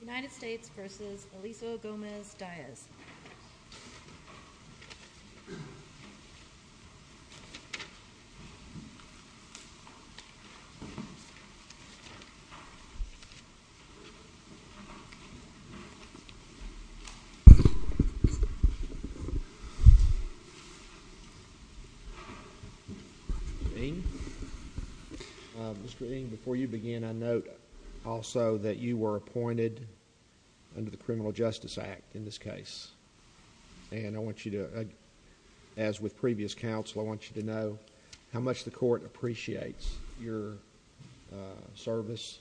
United States v. Eliseo Gomez-Diaz Mr. Ng, before you begin, I note also that you were appointed under the Criminal Justice Act in this case, and I want you to, as with previous counsel, I want you to know how much the Court appreciates your service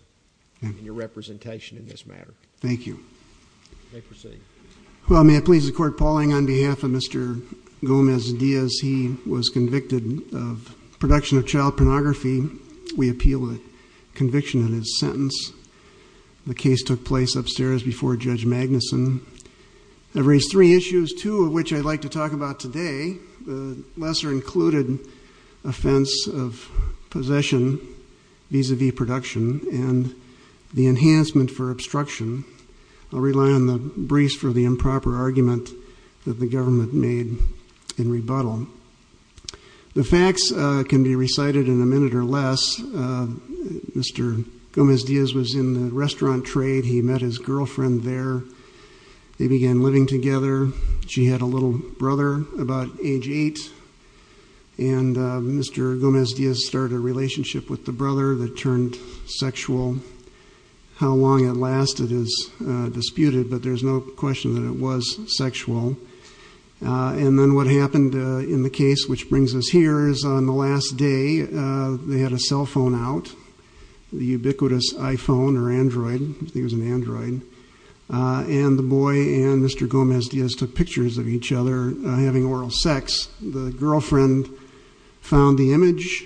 and your representation in this matter. Thank you. You may proceed. Well, may it please the Court, Paul Ng, on behalf of Mr. Gomez-Diaz, he was convicted of production of child pornography. We appeal the conviction in his sentence. The case took place upstairs before Judge Magnuson. I've raised three issues, two of which I'd like to talk about today, the lesser-included offense of possession vis-a-vis production and the enhancement for obstruction. I'll rely on the briefs for the improper argument that the government made in rebuttal. The facts can be recited in a minute or less. Mr. Gomez-Diaz was in the restaurant trade. He met his girlfriend there. They began living together. She had a little brother about age eight, and Mr. Gomez-Diaz started a relationship with the brother that turned sexual. How long it lasted is disputed, but there's no question that it was sexual. And then what happened in the case, which brings us here, is on the last day, they had a cell phone out, the ubiquitous iPhone or Android, I think it was an Android, and the boy and Mr. Gomez-Diaz took pictures of each other having oral sex. The girlfriend found the image,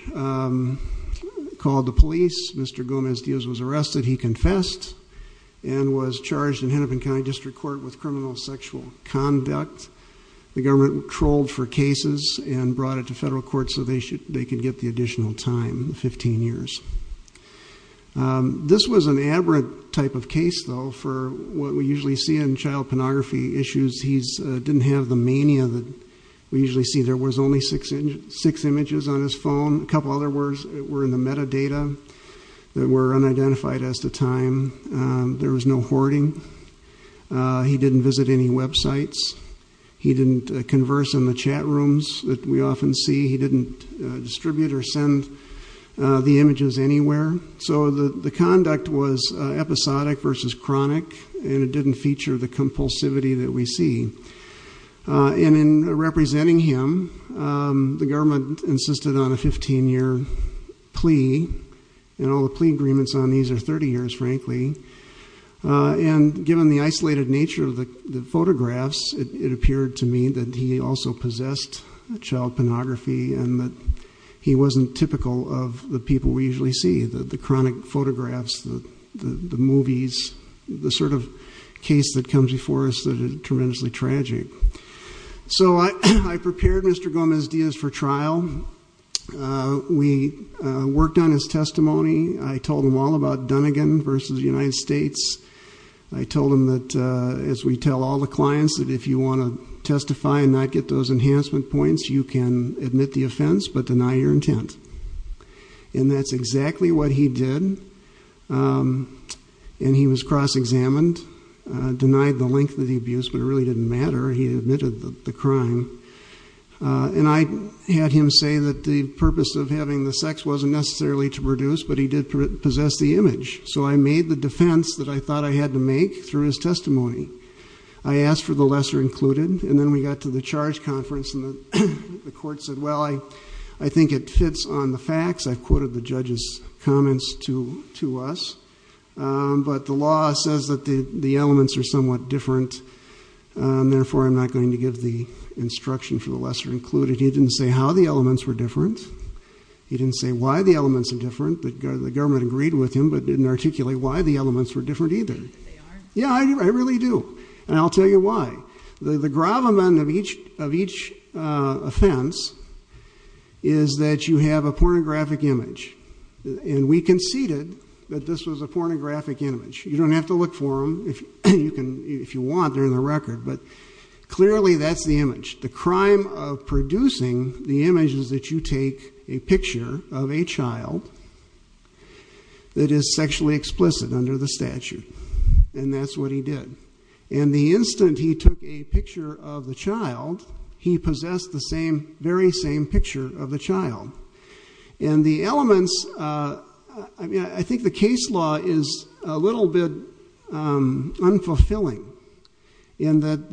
called the police. Mr. Gomez-Diaz was arrested. He confessed and was charged in Hennepin County District Court with criminal sexual conduct. The government trolled for cases and brought it to federal court so they could get the additional time, 15 years. This was an aberrant type of case, though, for what we usually see in child pornography issues. He didn't have the mania that we usually see. There was only six images on his phone. A couple other were in the metadata that were unidentified at the time. There was no hoarding. He didn't visit any websites. He didn't converse in the chat rooms that we often see. He didn't distribute or send the images anywhere. So the conduct was episodic versus chronic, and it didn't feature the compulsivity that we see. In representing him, the government insisted on a 15-year plea, and all the plea agreements on these are 30 years, frankly. Given the isolated nature of the photographs, it appeared to me that he also possessed child pornography and that he wasn't typical of the people we see. So I prepared Mr. Gomez-Diaz for trial. We worked on his testimony. I told him all about Dunigan v. United States. I told him that, as we tell all the clients, that if you want to testify and not get those enhancement points, you can admit the offense but deny your intent. And that's exactly what he did, and he was cross-examined. He was brought to trial, denied the length of the abuse, but it really didn't matter. He admitted the crime. And I had him say that the purpose of having the sex wasn't necessarily to produce, but he did possess the image. So I made the defense that I thought I had to make through his testimony. I asked for the lesser included, and then we got to the charge conference, and the court said, well, I think it fits on the facts. I've quoted the judge's comments to us, but the law says that the elements are somewhat different, and therefore I'm not going to give the instruction for the lesser included. He didn't say how the elements were different. He didn't say why the elements are different. The government agreed with him but didn't articulate why the elements were different either. Do you think that they are? Yeah, I really do, and I'll tell you why. The gravamen of each offense is that you have a pornographic image, and we conceded that this was a pornographic image. You don't have to look for them if you want, they're in the record, but clearly that's the image. The crime of producing the image is that you take a picture of a child that is sexually explicit under the statute, and that's what he did. And the instant he took a picture of the child, he possessed the very same picture of the child. And the elements, I think the case law is a little bit unfulfilling, in that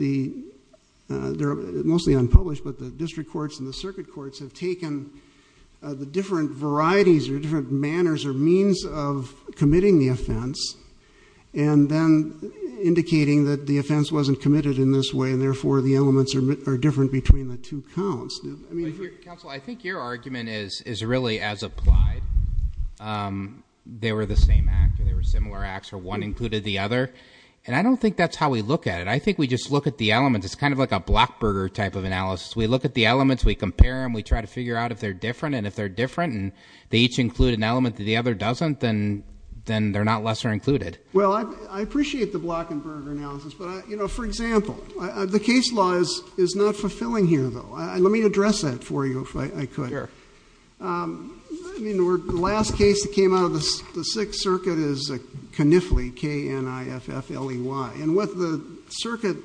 they're mostly unpublished, but the district courts and the circuit courts have taken the different varieties or different manners or means of committing the offense, and then indicating that the offense wasn't committed in this way, and therefore the elements are different between the two counts. Counsel, I think your argument is really as applied. They were the same act, or they were similar acts, or one included the other. And I don't think that's how we look at it. I think we just look at the elements. It's kind of like a Blackburger type of analysis. We look at the elements, we compare them, we try to figure out if they're different, and if they're different, and they each include an element that the other doesn't, then they're not lesser included. Well, I appreciate the Blackburger analysis, but for example, the case law is not fulfilling here though. Let me address that for you, if I could. I mean, the last case that came out of the Sixth Circuit is Kniffley, K-N-I-F-F-L-E-Y. And what the circuit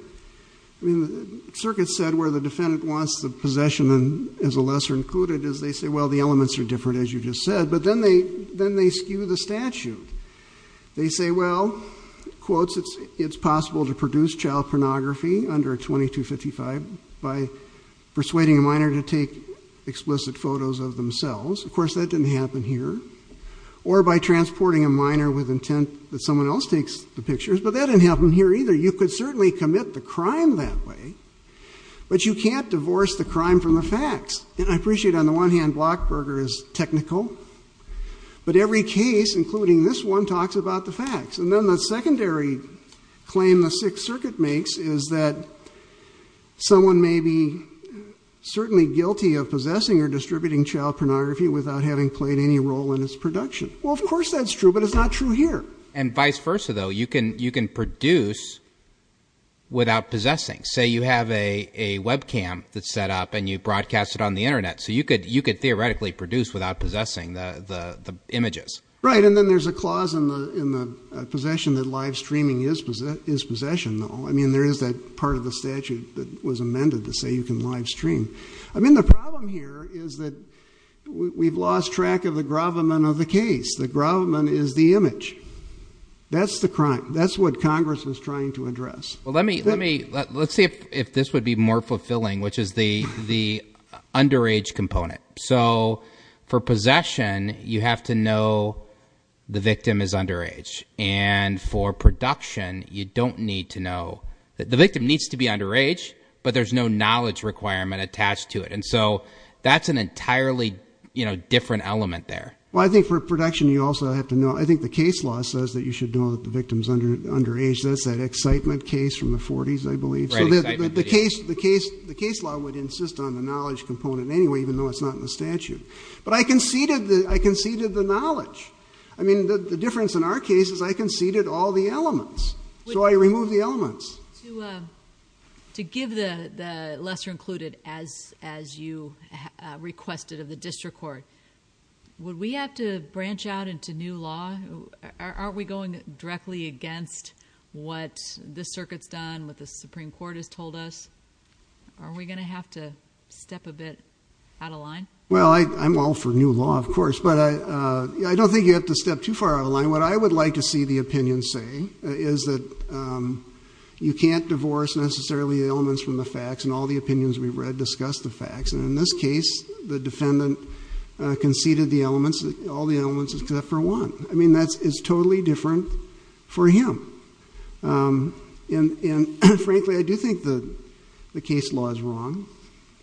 said, where the defendant wants the possession as a lesser included, is they say, well, the elements are different as you just said, but then they skew the statute. They say, well, quotes, it's possible to produce child pornography under 2255 by persuading a minor to take explicit photos of themselves. Of course, that didn't happen here. Or by transporting a minor with intent that someone else takes the pictures, but that didn't happen here either. You could certainly commit the crime that way, but you can't divorce the crime from the facts. And I appreciate on the one hand Blackburger is technical, but every case, including this one, talks about the facts. And then the secondary claim the Sixth Circuit makes is that someone may be certainly guilty of possessing or distributing child pornography without having played any role in its production. Well, of course that's true, but it's not true here. And vice versa though. You can produce without possessing. Say you have a webcam that's set on the internet, so you could theoretically produce without possessing the images. Right, and then there's a clause in the possession that live streaming is possession though. I mean, there is that part of the statute that was amended to say you can live stream. I mean, the problem here is that we've lost track of the gravamen of the case. The gravamen is the image. That's the crime. That's what Congress was trying to address. Well, let's see if this would be more fulfilling, which is the underage component. So for possession, you have to know the victim is underage. And for production, you don't need to know that the victim needs to be underage, but there's no knowledge requirement attached to it. And so that's an entirely different element there. Well, I think for production, you also have to know, I think the case law says that you know, the excitement case from the 40s, I believe. The case law would insist on the knowledge component anyway, even though it's not in the statute. But I conceded the knowledge. I mean, the difference in our case is I conceded all the elements. So I removed the elements. To give the lesser included, as you requested of the district court, would we have to branch out into new law? Are we going directly against what the circuit's done, what the Supreme Court has told us? Are we going to have to step a bit out of line? Well, I'm all for new law, of course. But I don't think you have to step too far out of line. What I would like to see the opinion say is that you can't divorce necessarily the elements from the facts. And all the opinions we've read discuss the facts. And in this is totally different for him. And frankly, I do think the case law is wrong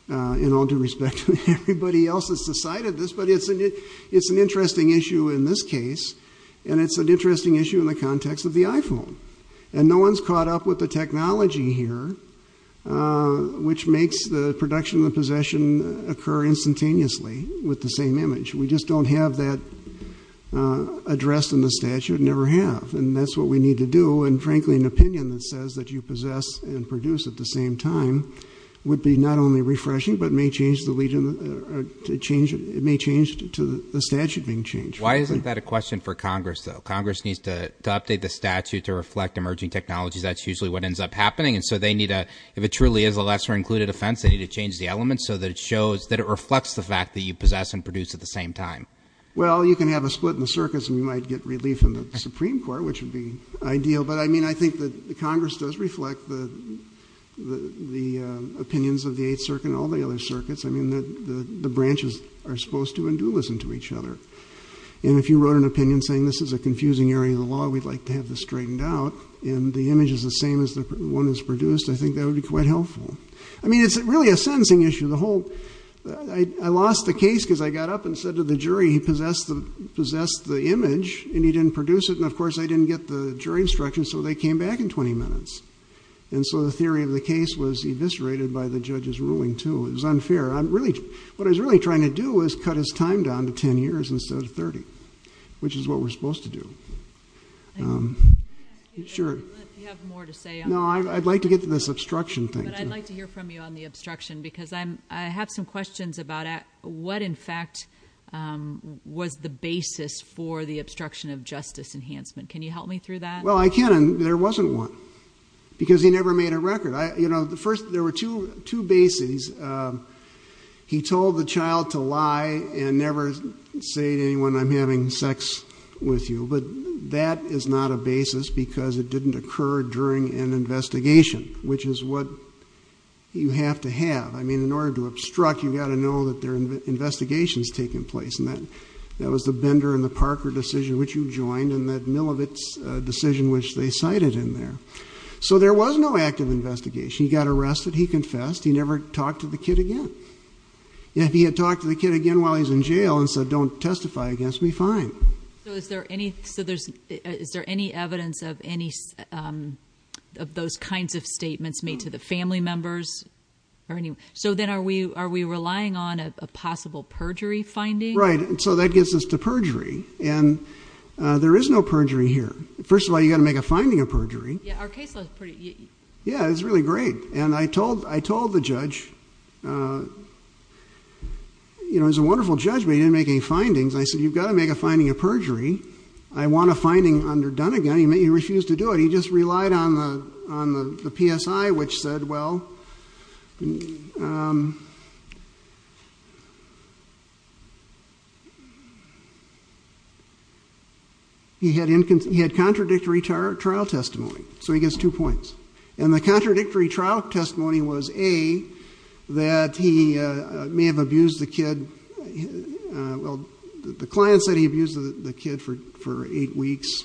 in all due respect to everybody else that's decided this. But it's an interesting issue in this case. And it's an interesting issue in the context of the iPhone. And no one's caught up with the technology here, which makes the production of the possession occur instantaneously with the same image. We just don't have that addressed in the statute, never have. And that's what we need to do. And frankly, an opinion that says that you possess and produce at the same time would be not only refreshing, but may change to the statute being changed. Why isn't that a question for Congress, though? Congress needs to update the statute to reflect emerging technologies. That's usually what ends up happening. And so if it truly is a lesser included offense, they need to change the elements so that it reflects the fact that you possess and produce at the same time. Well, you can have a split in the circuits and you might get relief in the Supreme Court, which would be ideal. But I mean, I think that Congress does reflect the opinions of the Eighth Circuit and all the other circuits. I mean, the branches are supposed to and do listen to each other. And if you wrote an opinion saying this is a confusing area of the law, we'd like to have this straightened out and the image is the same as the one that's produced, I think that would be quite helpful. I mean, it's really a sentencing issue. The I lost the case because I got up and said to the jury, he possessed the possessed the image and he didn't produce it. And of course, I didn't get the jury instruction. So they came back in 20 minutes. And so the theory of the case was eviscerated by the judge's ruling, too. It was unfair. I'm really what I was really trying to do is cut his time down to 10 years instead of 30, which is what we're supposed to do. Sure, you have more to say. No, I'd like to get to this obstruction thing. But I'd like to hear from you on the obstruction, because I'm I have some questions about what, in fact, was the basis for the obstruction of justice enhancement. Can you help me through that? Well, I can. And there wasn't one because he never made a record. You know, the first there were two two bases. He told the child to lie and never say to anyone, I'm having sex with you. But that is not a basis because it didn't occur during an investigation, which is what you have to have. I mean, in order to obstruct, you've got to know that they're investigations taking place. And that that was the Bender and the Parker decision, which you joined in that mill of its decision, which they cited in there. So there was no active investigation. He got arrested. He confessed. He never talked to the kid again. If he had talked to the kid again while he's in jail and said, don't testify against me, fine. So is there any so there's is there any evidence of any of those kinds of statements made to the family members or any? So then are we are we relying on a possible perjury finding? Right. And so that gets us to perjury. And there is no perjury here. First of all, you got to make a finding of perjury. Our case was pretty. Yeah, it's really great. And I told I told the judge, you know, is a wonderful judgment in making findings. I said, you've got to make a finding of perjury. I want a finding under done again. He refused to do it. He just relied on the on the PSI, which said, well. He had he had contradictory trial testimony, so he gets two points and the contradictory trial testimony was a that he may have abused the kid. Well, the client said he abused the kid for for eight weeks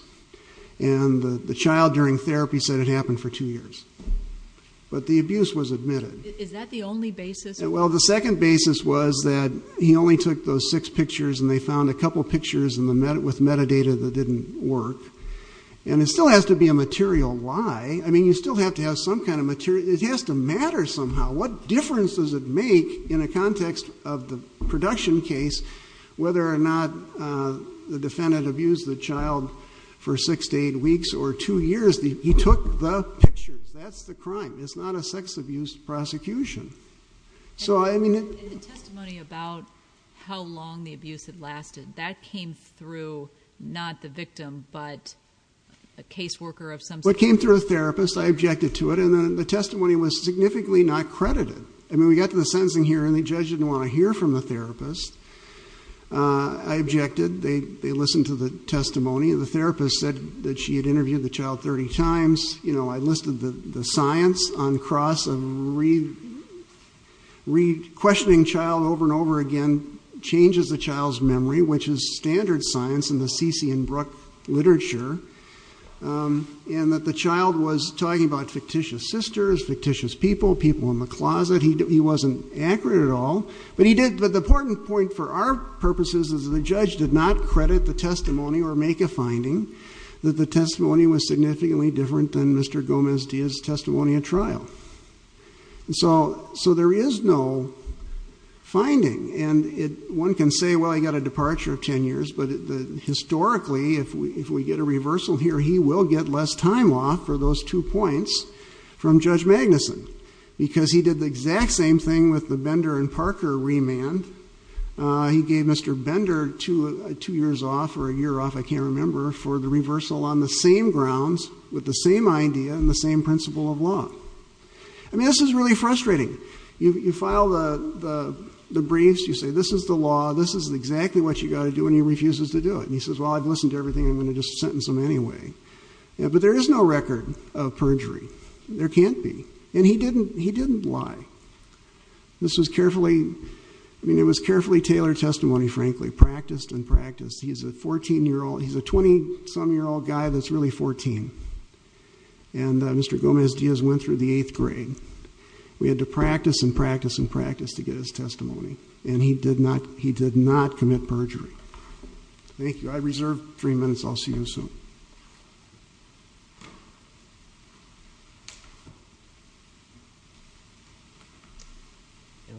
and the child during therapy said it happened for two years. But the abuse was admitted. Is that the only basis? Well, the second basis was that he only took those six pictures and they found a couple of pictures in the met with metadata that didn't work. And it still has to be a material. Why? I mean, you still have to have some kind of material. It has to matter somehow. What difference does it make in a context of the production case, whether or not the defendant abused the child for six to eight weeks or two years? He took the pictures. That's the crime. It's not a sex abuse prosecution. So I mean, the testimony about how long the abuse had lasted that came through, not the victim, but a caseworker of some what came through a therapist. I objected to it. And then the testimony was significantly not credited. I mean, we got to the sentencing here and the judge didn't want to hear from the therapist. I objected. They they listened to the testimony. And the therapist said that she had interviewed the child 30 times. You know, I listed the science on cross and read, read, questioning child over and over again, changes the child's memory, which is standard science in the Sisi and Brook literature. And that the child was talking about fictitious sisters, fictitious people, people in the closet. He wasn't accurate at all, but he did. But the important point for our purposes is the judge did not credit the testimony or make a finding that the testimony was significantly different than Mr. Gomez Diaz testimony at trial. And so so there is no finding and it, one can say, well, I got a departure of 10 years, but historically, if we, if we get a reversal here, he will get less time off for those two points from judge Magnuson because he did the exact same thing with the Bender and Parker remand. Uh, he gave Mr. Bender two, two years off or a year off. I can't remember for the reversal on the same grounds with the same idea and the same principle of law. I mean, this is really frustrating. You, you file the, the, the briefs. You say, this is the law. This is exactly what you got to do. And he refuses to do it. And he says, well, I've listened to everything. I'm going to just sentence him anyway. But there is no record of perjury. There can't be. And he didn't, he didn't lie. This was carefully, I mean, it was carefully tailored testimony, frankly, practiced and practice. He's a 14 year old. He's a 20 some year old guy. That's really 14. And Mr. Gomez Diaz went through the eighth grade. We had to practice and practice and practice to get his testimony. And he did not, he did not commit perjury. Thank you. I reserved three minutes. I'll see you soon.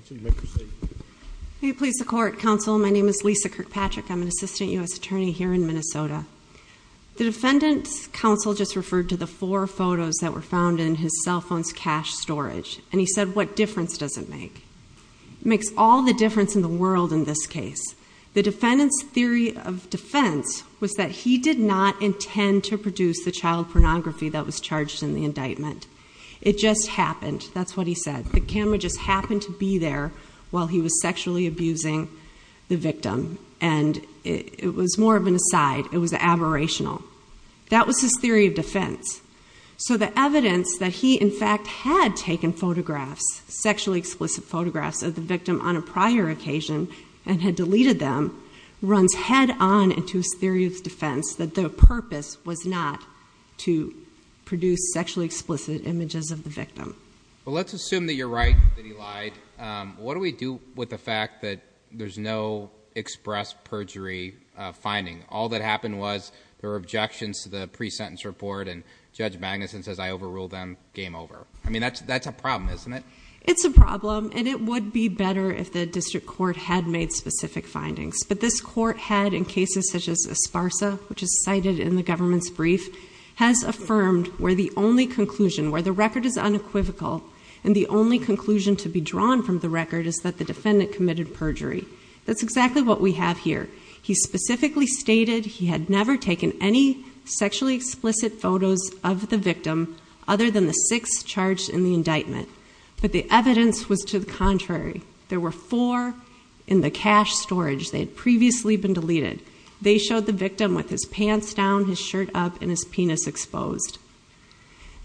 Can you please support counsel? My name is Lisa Kirkpatrick. I'm an assistant us attorney here in Minnesota. The defendant's counsel just referred to the four photos that were found in his cell phone's cache storage. And he said, what difference does it make? Makes all the difference in the world in this case. The defendant's theory of defense was that he did not intend to produce the child pornography that was charged in the indictment. It just happened. That's what he said. The camera just happened to be there while he was sexually abusing the victim. And it was more of an aside. It was aberrational. That was his theory of defense. So the evidence that he in fact had taken photographs, sexually explicit photographs of the victim on a prior occasion and had deleted them, runs head on into his theory of defense that the purpose was not to produce sexually explicit images of the victim. Let's assume that you're right, that he lied. What do we do with the fact that there's no express perjury finding? All that happened was there were objections to the pre-sentence report and Judge Magnuson says I overruled them, game over. I mean, that's a problem, isn't it? It's a problem and it would be better if the district court had made specific findings. But this court had in cases such as Esparza, which is cited in the government's brief, has affirmed where the only conclusion, where the record is unequivocal and the only conclusion to be drawn from the record is that the defendant committed perjury. That's exactly what we have here. He specifically stated he had never taken any sexually explicit photos of the victim other than the six charged in the indictment. But the evidence was to the contrary. There were four in the cache storage. They had previously been deleted. They showed the victim with his pants down, his shirt up and his penis exposed.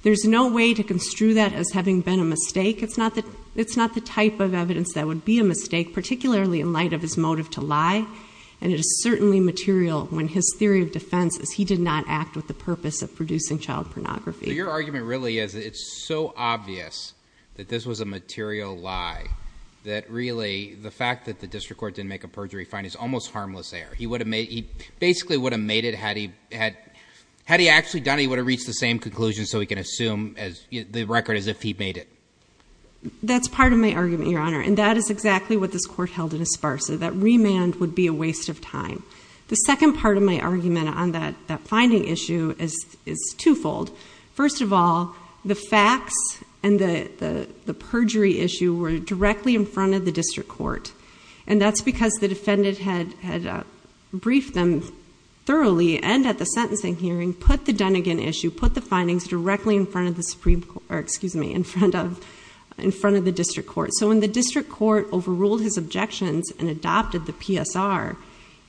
There's no way to construe that as having been a mistake. It's not the type of evidence that would be a mistake, particularly in light of his motive to lie and it is certainly material when his theory of defense is he did not act with the purpose of producing child pornography. But your argument really is it's so obvious that this was a material lie that really the fact that the district court didn't make a perjury finding is almost harmless error. He basically would have made it had he actually done it, he would have reached the same conclusion so we can assume the record as if he made it. That's part of my argument, your honor, and that is exactly what this court held in Esparza. That remand would be a waste of time. The second part of my argument on that finding issue is twofold. First of all, the facts and the perjury issue were directly in front of the district court and that's because the findings directly in front of the district court. So when the district court overruled his objections and adopted the PSR,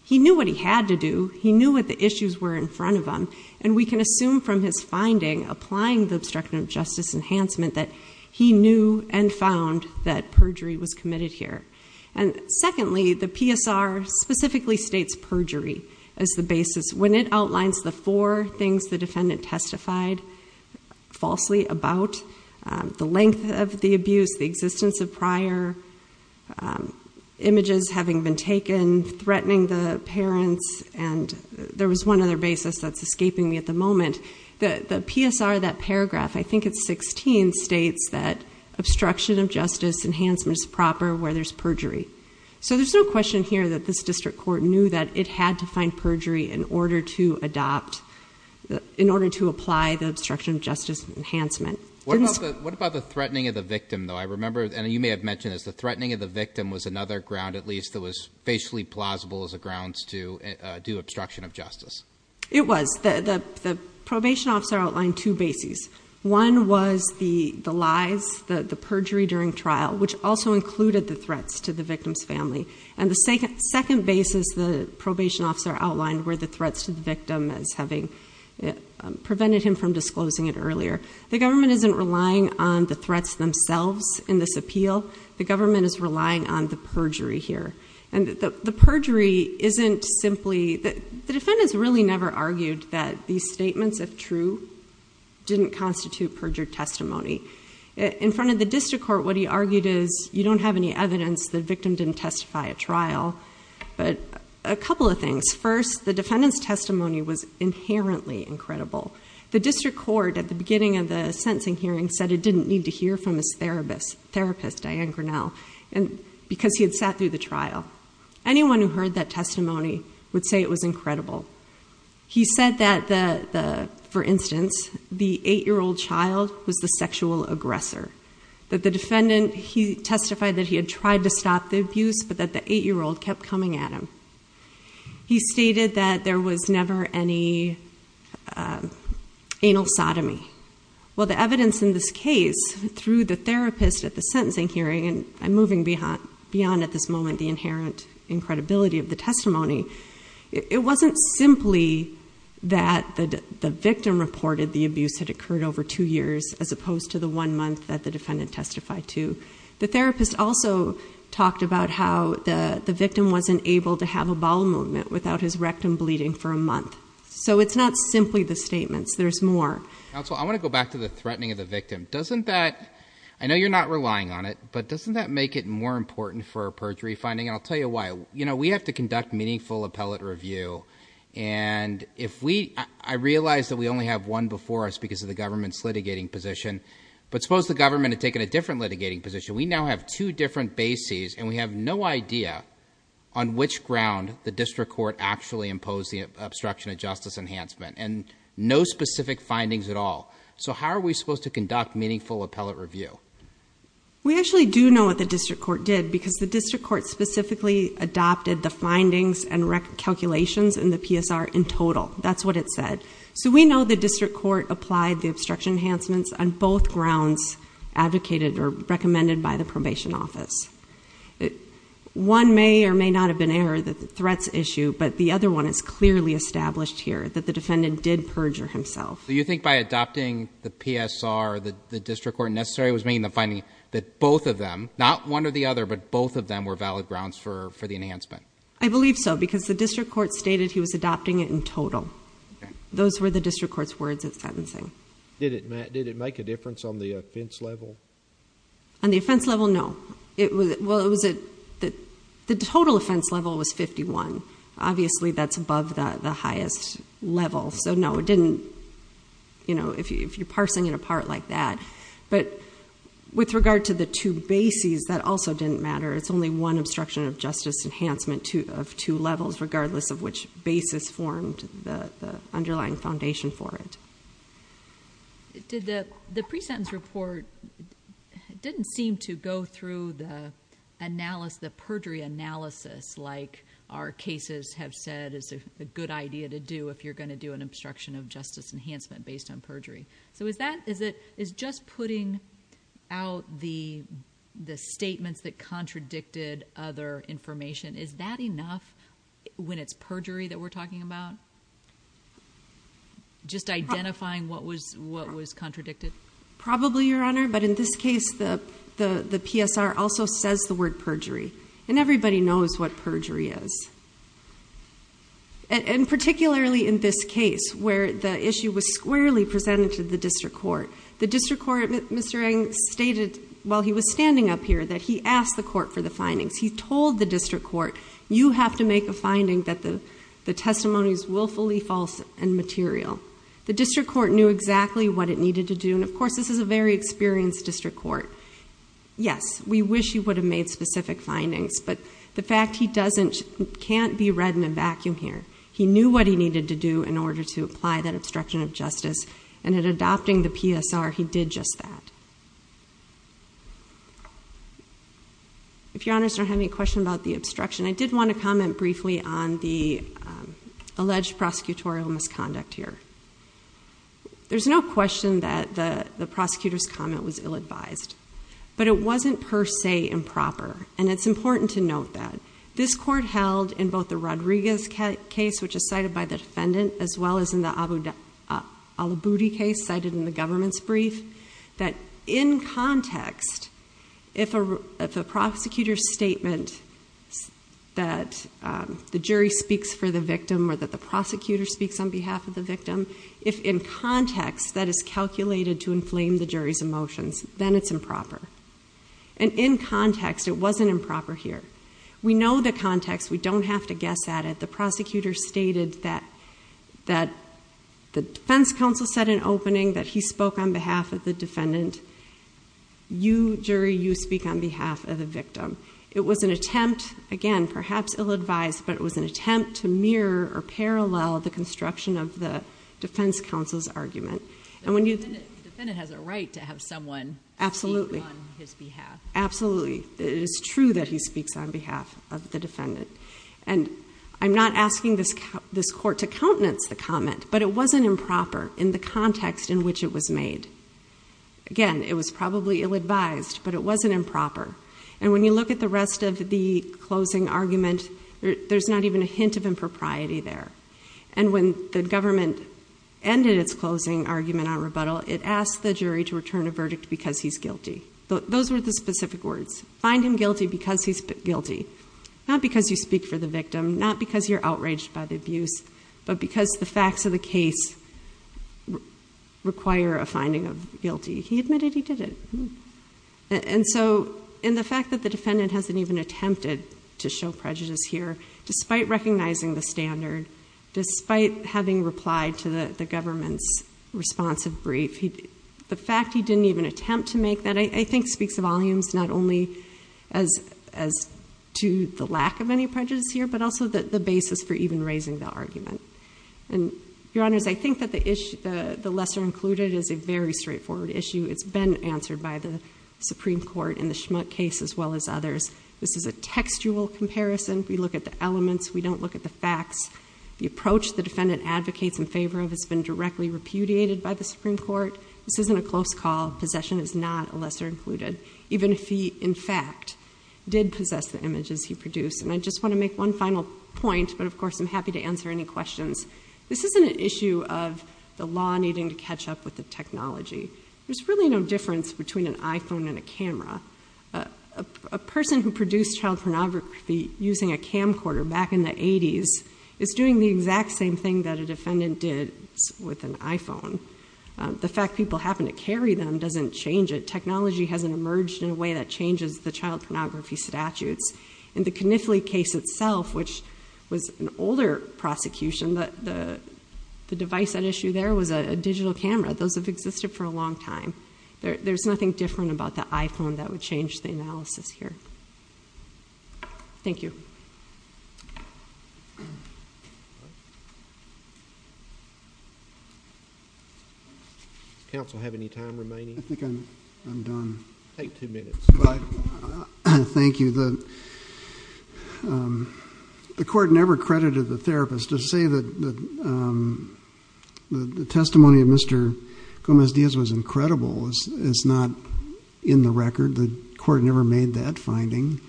he knew what he had to do. He knew what the issues were in front of him and we can assume from his finding applying the obstruction of justice enhancement that he knew and found that perjury was committed here. And secondly, the PSR specifically states perjury as the basis when it outlines the four things the defendant testified falsely about, the length of the abuse, the existence of prior images having been taken, threatening the parents, and there was one other basis that's escaping me at the moment. The PSR, that paragraph, I think it's 16, states that obstruction of justice enhancement is proper where there's perjury. So there's no question here that this district court knew that it had to find perjury in order to adopt, in order to apply the obstruction of justice enhancement. What about the threatening of the victim though? I remember, and you may have mentioned this, the threatening of the victim was another ground at least that was facially plausible as a grounds to do obstruction of justice. It was. The probation officer outlined two bases. One was the lies, the perjury during the trial, which also included the threats to the victim's family. And the second basis the probation officer outlined were the threats to the victim as having prevented him from disclosing it earlier. The government isn't relying on the threats themselves in this appeal. The government is relying on the perjury here. And the perjury isn't simply, the defendants really never argued that these statements, if true, didn't constitute perjured testimony. In front of the district court, what he argued is you don't have any evidence the victim didn't testify at trial. But a couple of things. First, the defendants testimony was inherently incredible. The district court at the beginning of the sentencing hearing said it didn't need to hear from his therapist, Diane Grinnell, because he had sat through the trial. Anyone who heard that testimony would say it was incredible. He said that, for instance, the eight-year-old child was the sexual aggressor. That the defendant, he testified that he had tried to stop the abuse, but that the eight-year-old kept coming at him. He stated that there was never any anal sodomy. Well, the evidence in this case, through the therapist at the sentencing hearing, and I'm moving beyond at this moment the inherent incredibility of the testimony, it wasn't simply that the victim reported the abuse had occurred over two years, as opposed to the one month that the defendant testified to. The therapist also talked about how the victim wasn't able to have a bowel movement without his rectum bleeding for a month. So it's not simply the statements. There's more. Counsel, I want to go back to the threatening of the victim. Doesn't that, I know you're not relying on it, but doesn't that make it more important for a perjury finding? And I'll tell you why. You know, we have to conduct meaningful appellate review and if we, I realize that we only have one before us because of the government's litigating position, but suppose the government had taken a different litigating position. We now have two different bases and we have no idea on which ground the district court actually imposed the obstruction of justice enhancement and no specific findings at all. So how are we supposed to conduct meaningful appellate review? We actually do know what the district court did because the district court specifically adopted the findings and rec calculations in the PSR in total. That's what it said. So we know the district court applied the obstruction enhancements on both grounds advocated or recommended by the probation office. One may or may not have been error, the threats issue, but the other one is clearly established here that the defendant did perjure himself. So you think by adopting the PSR, the district court necessarily was making the finding that both of them, not one or the other, but both of them were valid grounds for the enhancement? I believe so because the district court stated he was adopting it in total. Those were the district court's words of sentencing. Did it make a difference on the offense level? On the offense level, no. It was, well it was, the total offense level was 51. Obviously that's above the highest level. So no, it didn't, you know, if you're parsing it apart like that. But with regard to the two bases, that also didn't matter. It's only one obstruction of justice enhancement of two levels regardless of which basis formed the underlying foundation for it. The pre-sentence report didn't seem to go through the analysis, the perjury analysis like our cases have said is a good idea to do if you're going to do an obstruction of justice. Is just putting out the statements that contradicted other information, is that enough when it's perjury that we're talking about? Just identifying what was contradicted? Probably Your Honor, but in this case the PSR also says the word perjury. And everybody knows what perjury is. And particularly in this case where the issue was squarely presented the district court. The district court, Mr. Eng stated while he was standing up here that he asked the court for the findings. He told the district court, you have to make a finding that the testimony is willfully false and material. The district court knew exactly what it needed to do. And of course this is a very experienced district court. Yes, we wish he would have made specific findings. But the fact he doesn't, can't be read in a vacuum here. He knew what he needed to do in order to apply that obstruction of justice and in adopting the PSR he did just that. If Your Honors don't have any questions about the obstruction, I did want to comment briefly on the alleged prosecutorial misconduct here. There's no question that the prosecutor's comment was ill advised. But it wasn't per se improper. And it's important to note that. This court held in both the Rodriguez case which is cited by the defendant as well as in the Al-Aboudi case cited in the government's brief. That in context, if a prosecutor's statement that the jury speaks for the victim or that the prosecutor speaks on behalf of the victim, if in context that is calculated to inflame the jury's emotions, then it's improper. And in context it wasn't improper here. We know the context. We don't have to guess at it. The prosecutor stated that the defense counsel said in opening that he spoke on behalf of the defendant. You, jury, you speak on behalf of the victim. It was an attempt, again, perhaps ill advised, but it was an attempt to mirror or parallel the construction of the defense counsel's argument. And when you- The defendant has a right to have someone speak on his behalf. Absolutely. It is true that he speaks on behalf of the defendant. And I'm not asking this court to countenance the comment, but it wasn't improper in the context in which it was made. Again, it was probably ill advised, but it wasn't improper. And when you look at the rest of the closing argument, there's not even a hint of impropriety there. And when the government ended its closing argument on rebuttal, it asked the jury to return a specific words, find him guilty because he's guilty. Not because you speak for the victim, not because you're outraged by the abuse, but because the facts of the case require a finding of guilty. He admitted he did it. And so in the fact that the defendant hasn't even attempted to show prejudice here, despite recognizing the standard, despite having replied to the government's response of brief, the fact he didn't even attempt to make that, I think speaks volumes not only as to the lack of any prejudice here, but also the basis for even raising the argument. And your honors, I think that the issue, the lesser included is a very straightforward issue. It's been answered by the Supreme Court in the Schmuck case as well as others. This is a textual comparison. We look at the elements. We don't look at the facts. The approach the defendant advocates in favor of has been directly repudiated by the Supreme Court. This isn't a close call. Possession is not a lesser included. Even if he, in fact, did possess the images he produced. And I just want to make one final point, but of course I'm happy to answer any questions. This isn't an issue of the law needing to catch up with the technology. There's really no difference between an iPhone and a camera. A person who produced child pornography using a camcorder back in the 80s is doing the exact same thing that a defendant did with an iPhone. The fact people happen to carry them doesn't change it. Technology hasn't emerged in a way that changes the child pornography statutes. In the Kniffley case itself, which was an older prosecution, the device at issue there was a digital camera. Those have existed for a long time. There's nothing different about the iPhone that would change the analysis here. Thank you. Does counsel have any time remaining? I think I'm done. Take two minutes. Thank you. The court never credited the therapist. To say that the testimony of Mr. Gomez-Diaz was incredible is not in the record. The court never made that finding.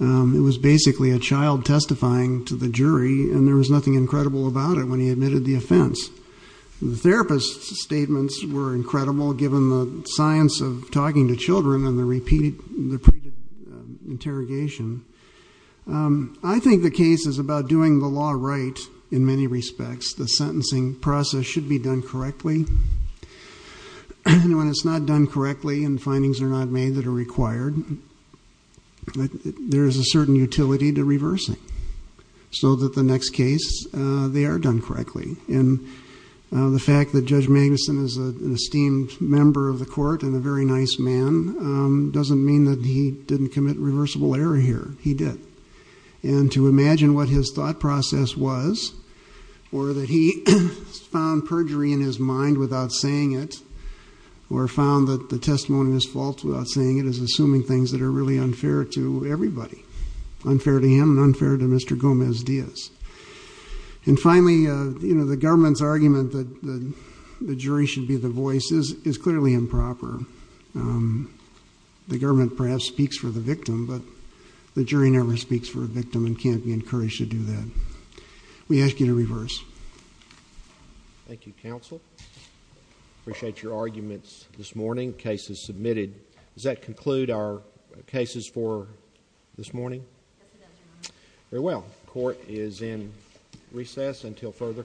It was basically a child testifying to the jury, and there was nothing incredible about it when he admitted the offense. The therapist's statements were incredible, given the science of talking to children and the repeated interrogation. I think the case is about doing the law right in many respects. The sentencing process should be done correctly. When it's not done correctly and findings are not made that are required, there's a certain utility to reversing, so that the next case they are done correctly. The fact that Judge Magnuson is an esteemed member of the court and a very nice man doesn't mean that he didn't commit reversible error here. He did. To imagine what his thought process was, or that he found perjury in his mind without saying it, or found that the testimony was false without saying it, is assuming things that are really unfair to everybody. Unfair to him and unfair to Mr. Gomez-Diaz. Finally, the government's argument that the jury should be the voice is clearly improper. The government perhaps speaks for the victim, but the jury never speaks for a victim and can't be encouraged to do that. We ask you to reverse. Thank you, counsel. I appreciate your arguments this morning. The case is submitted. Does that conclude our cases for this morning? Yes, Your Honor. Very well. The court is in recess until further call.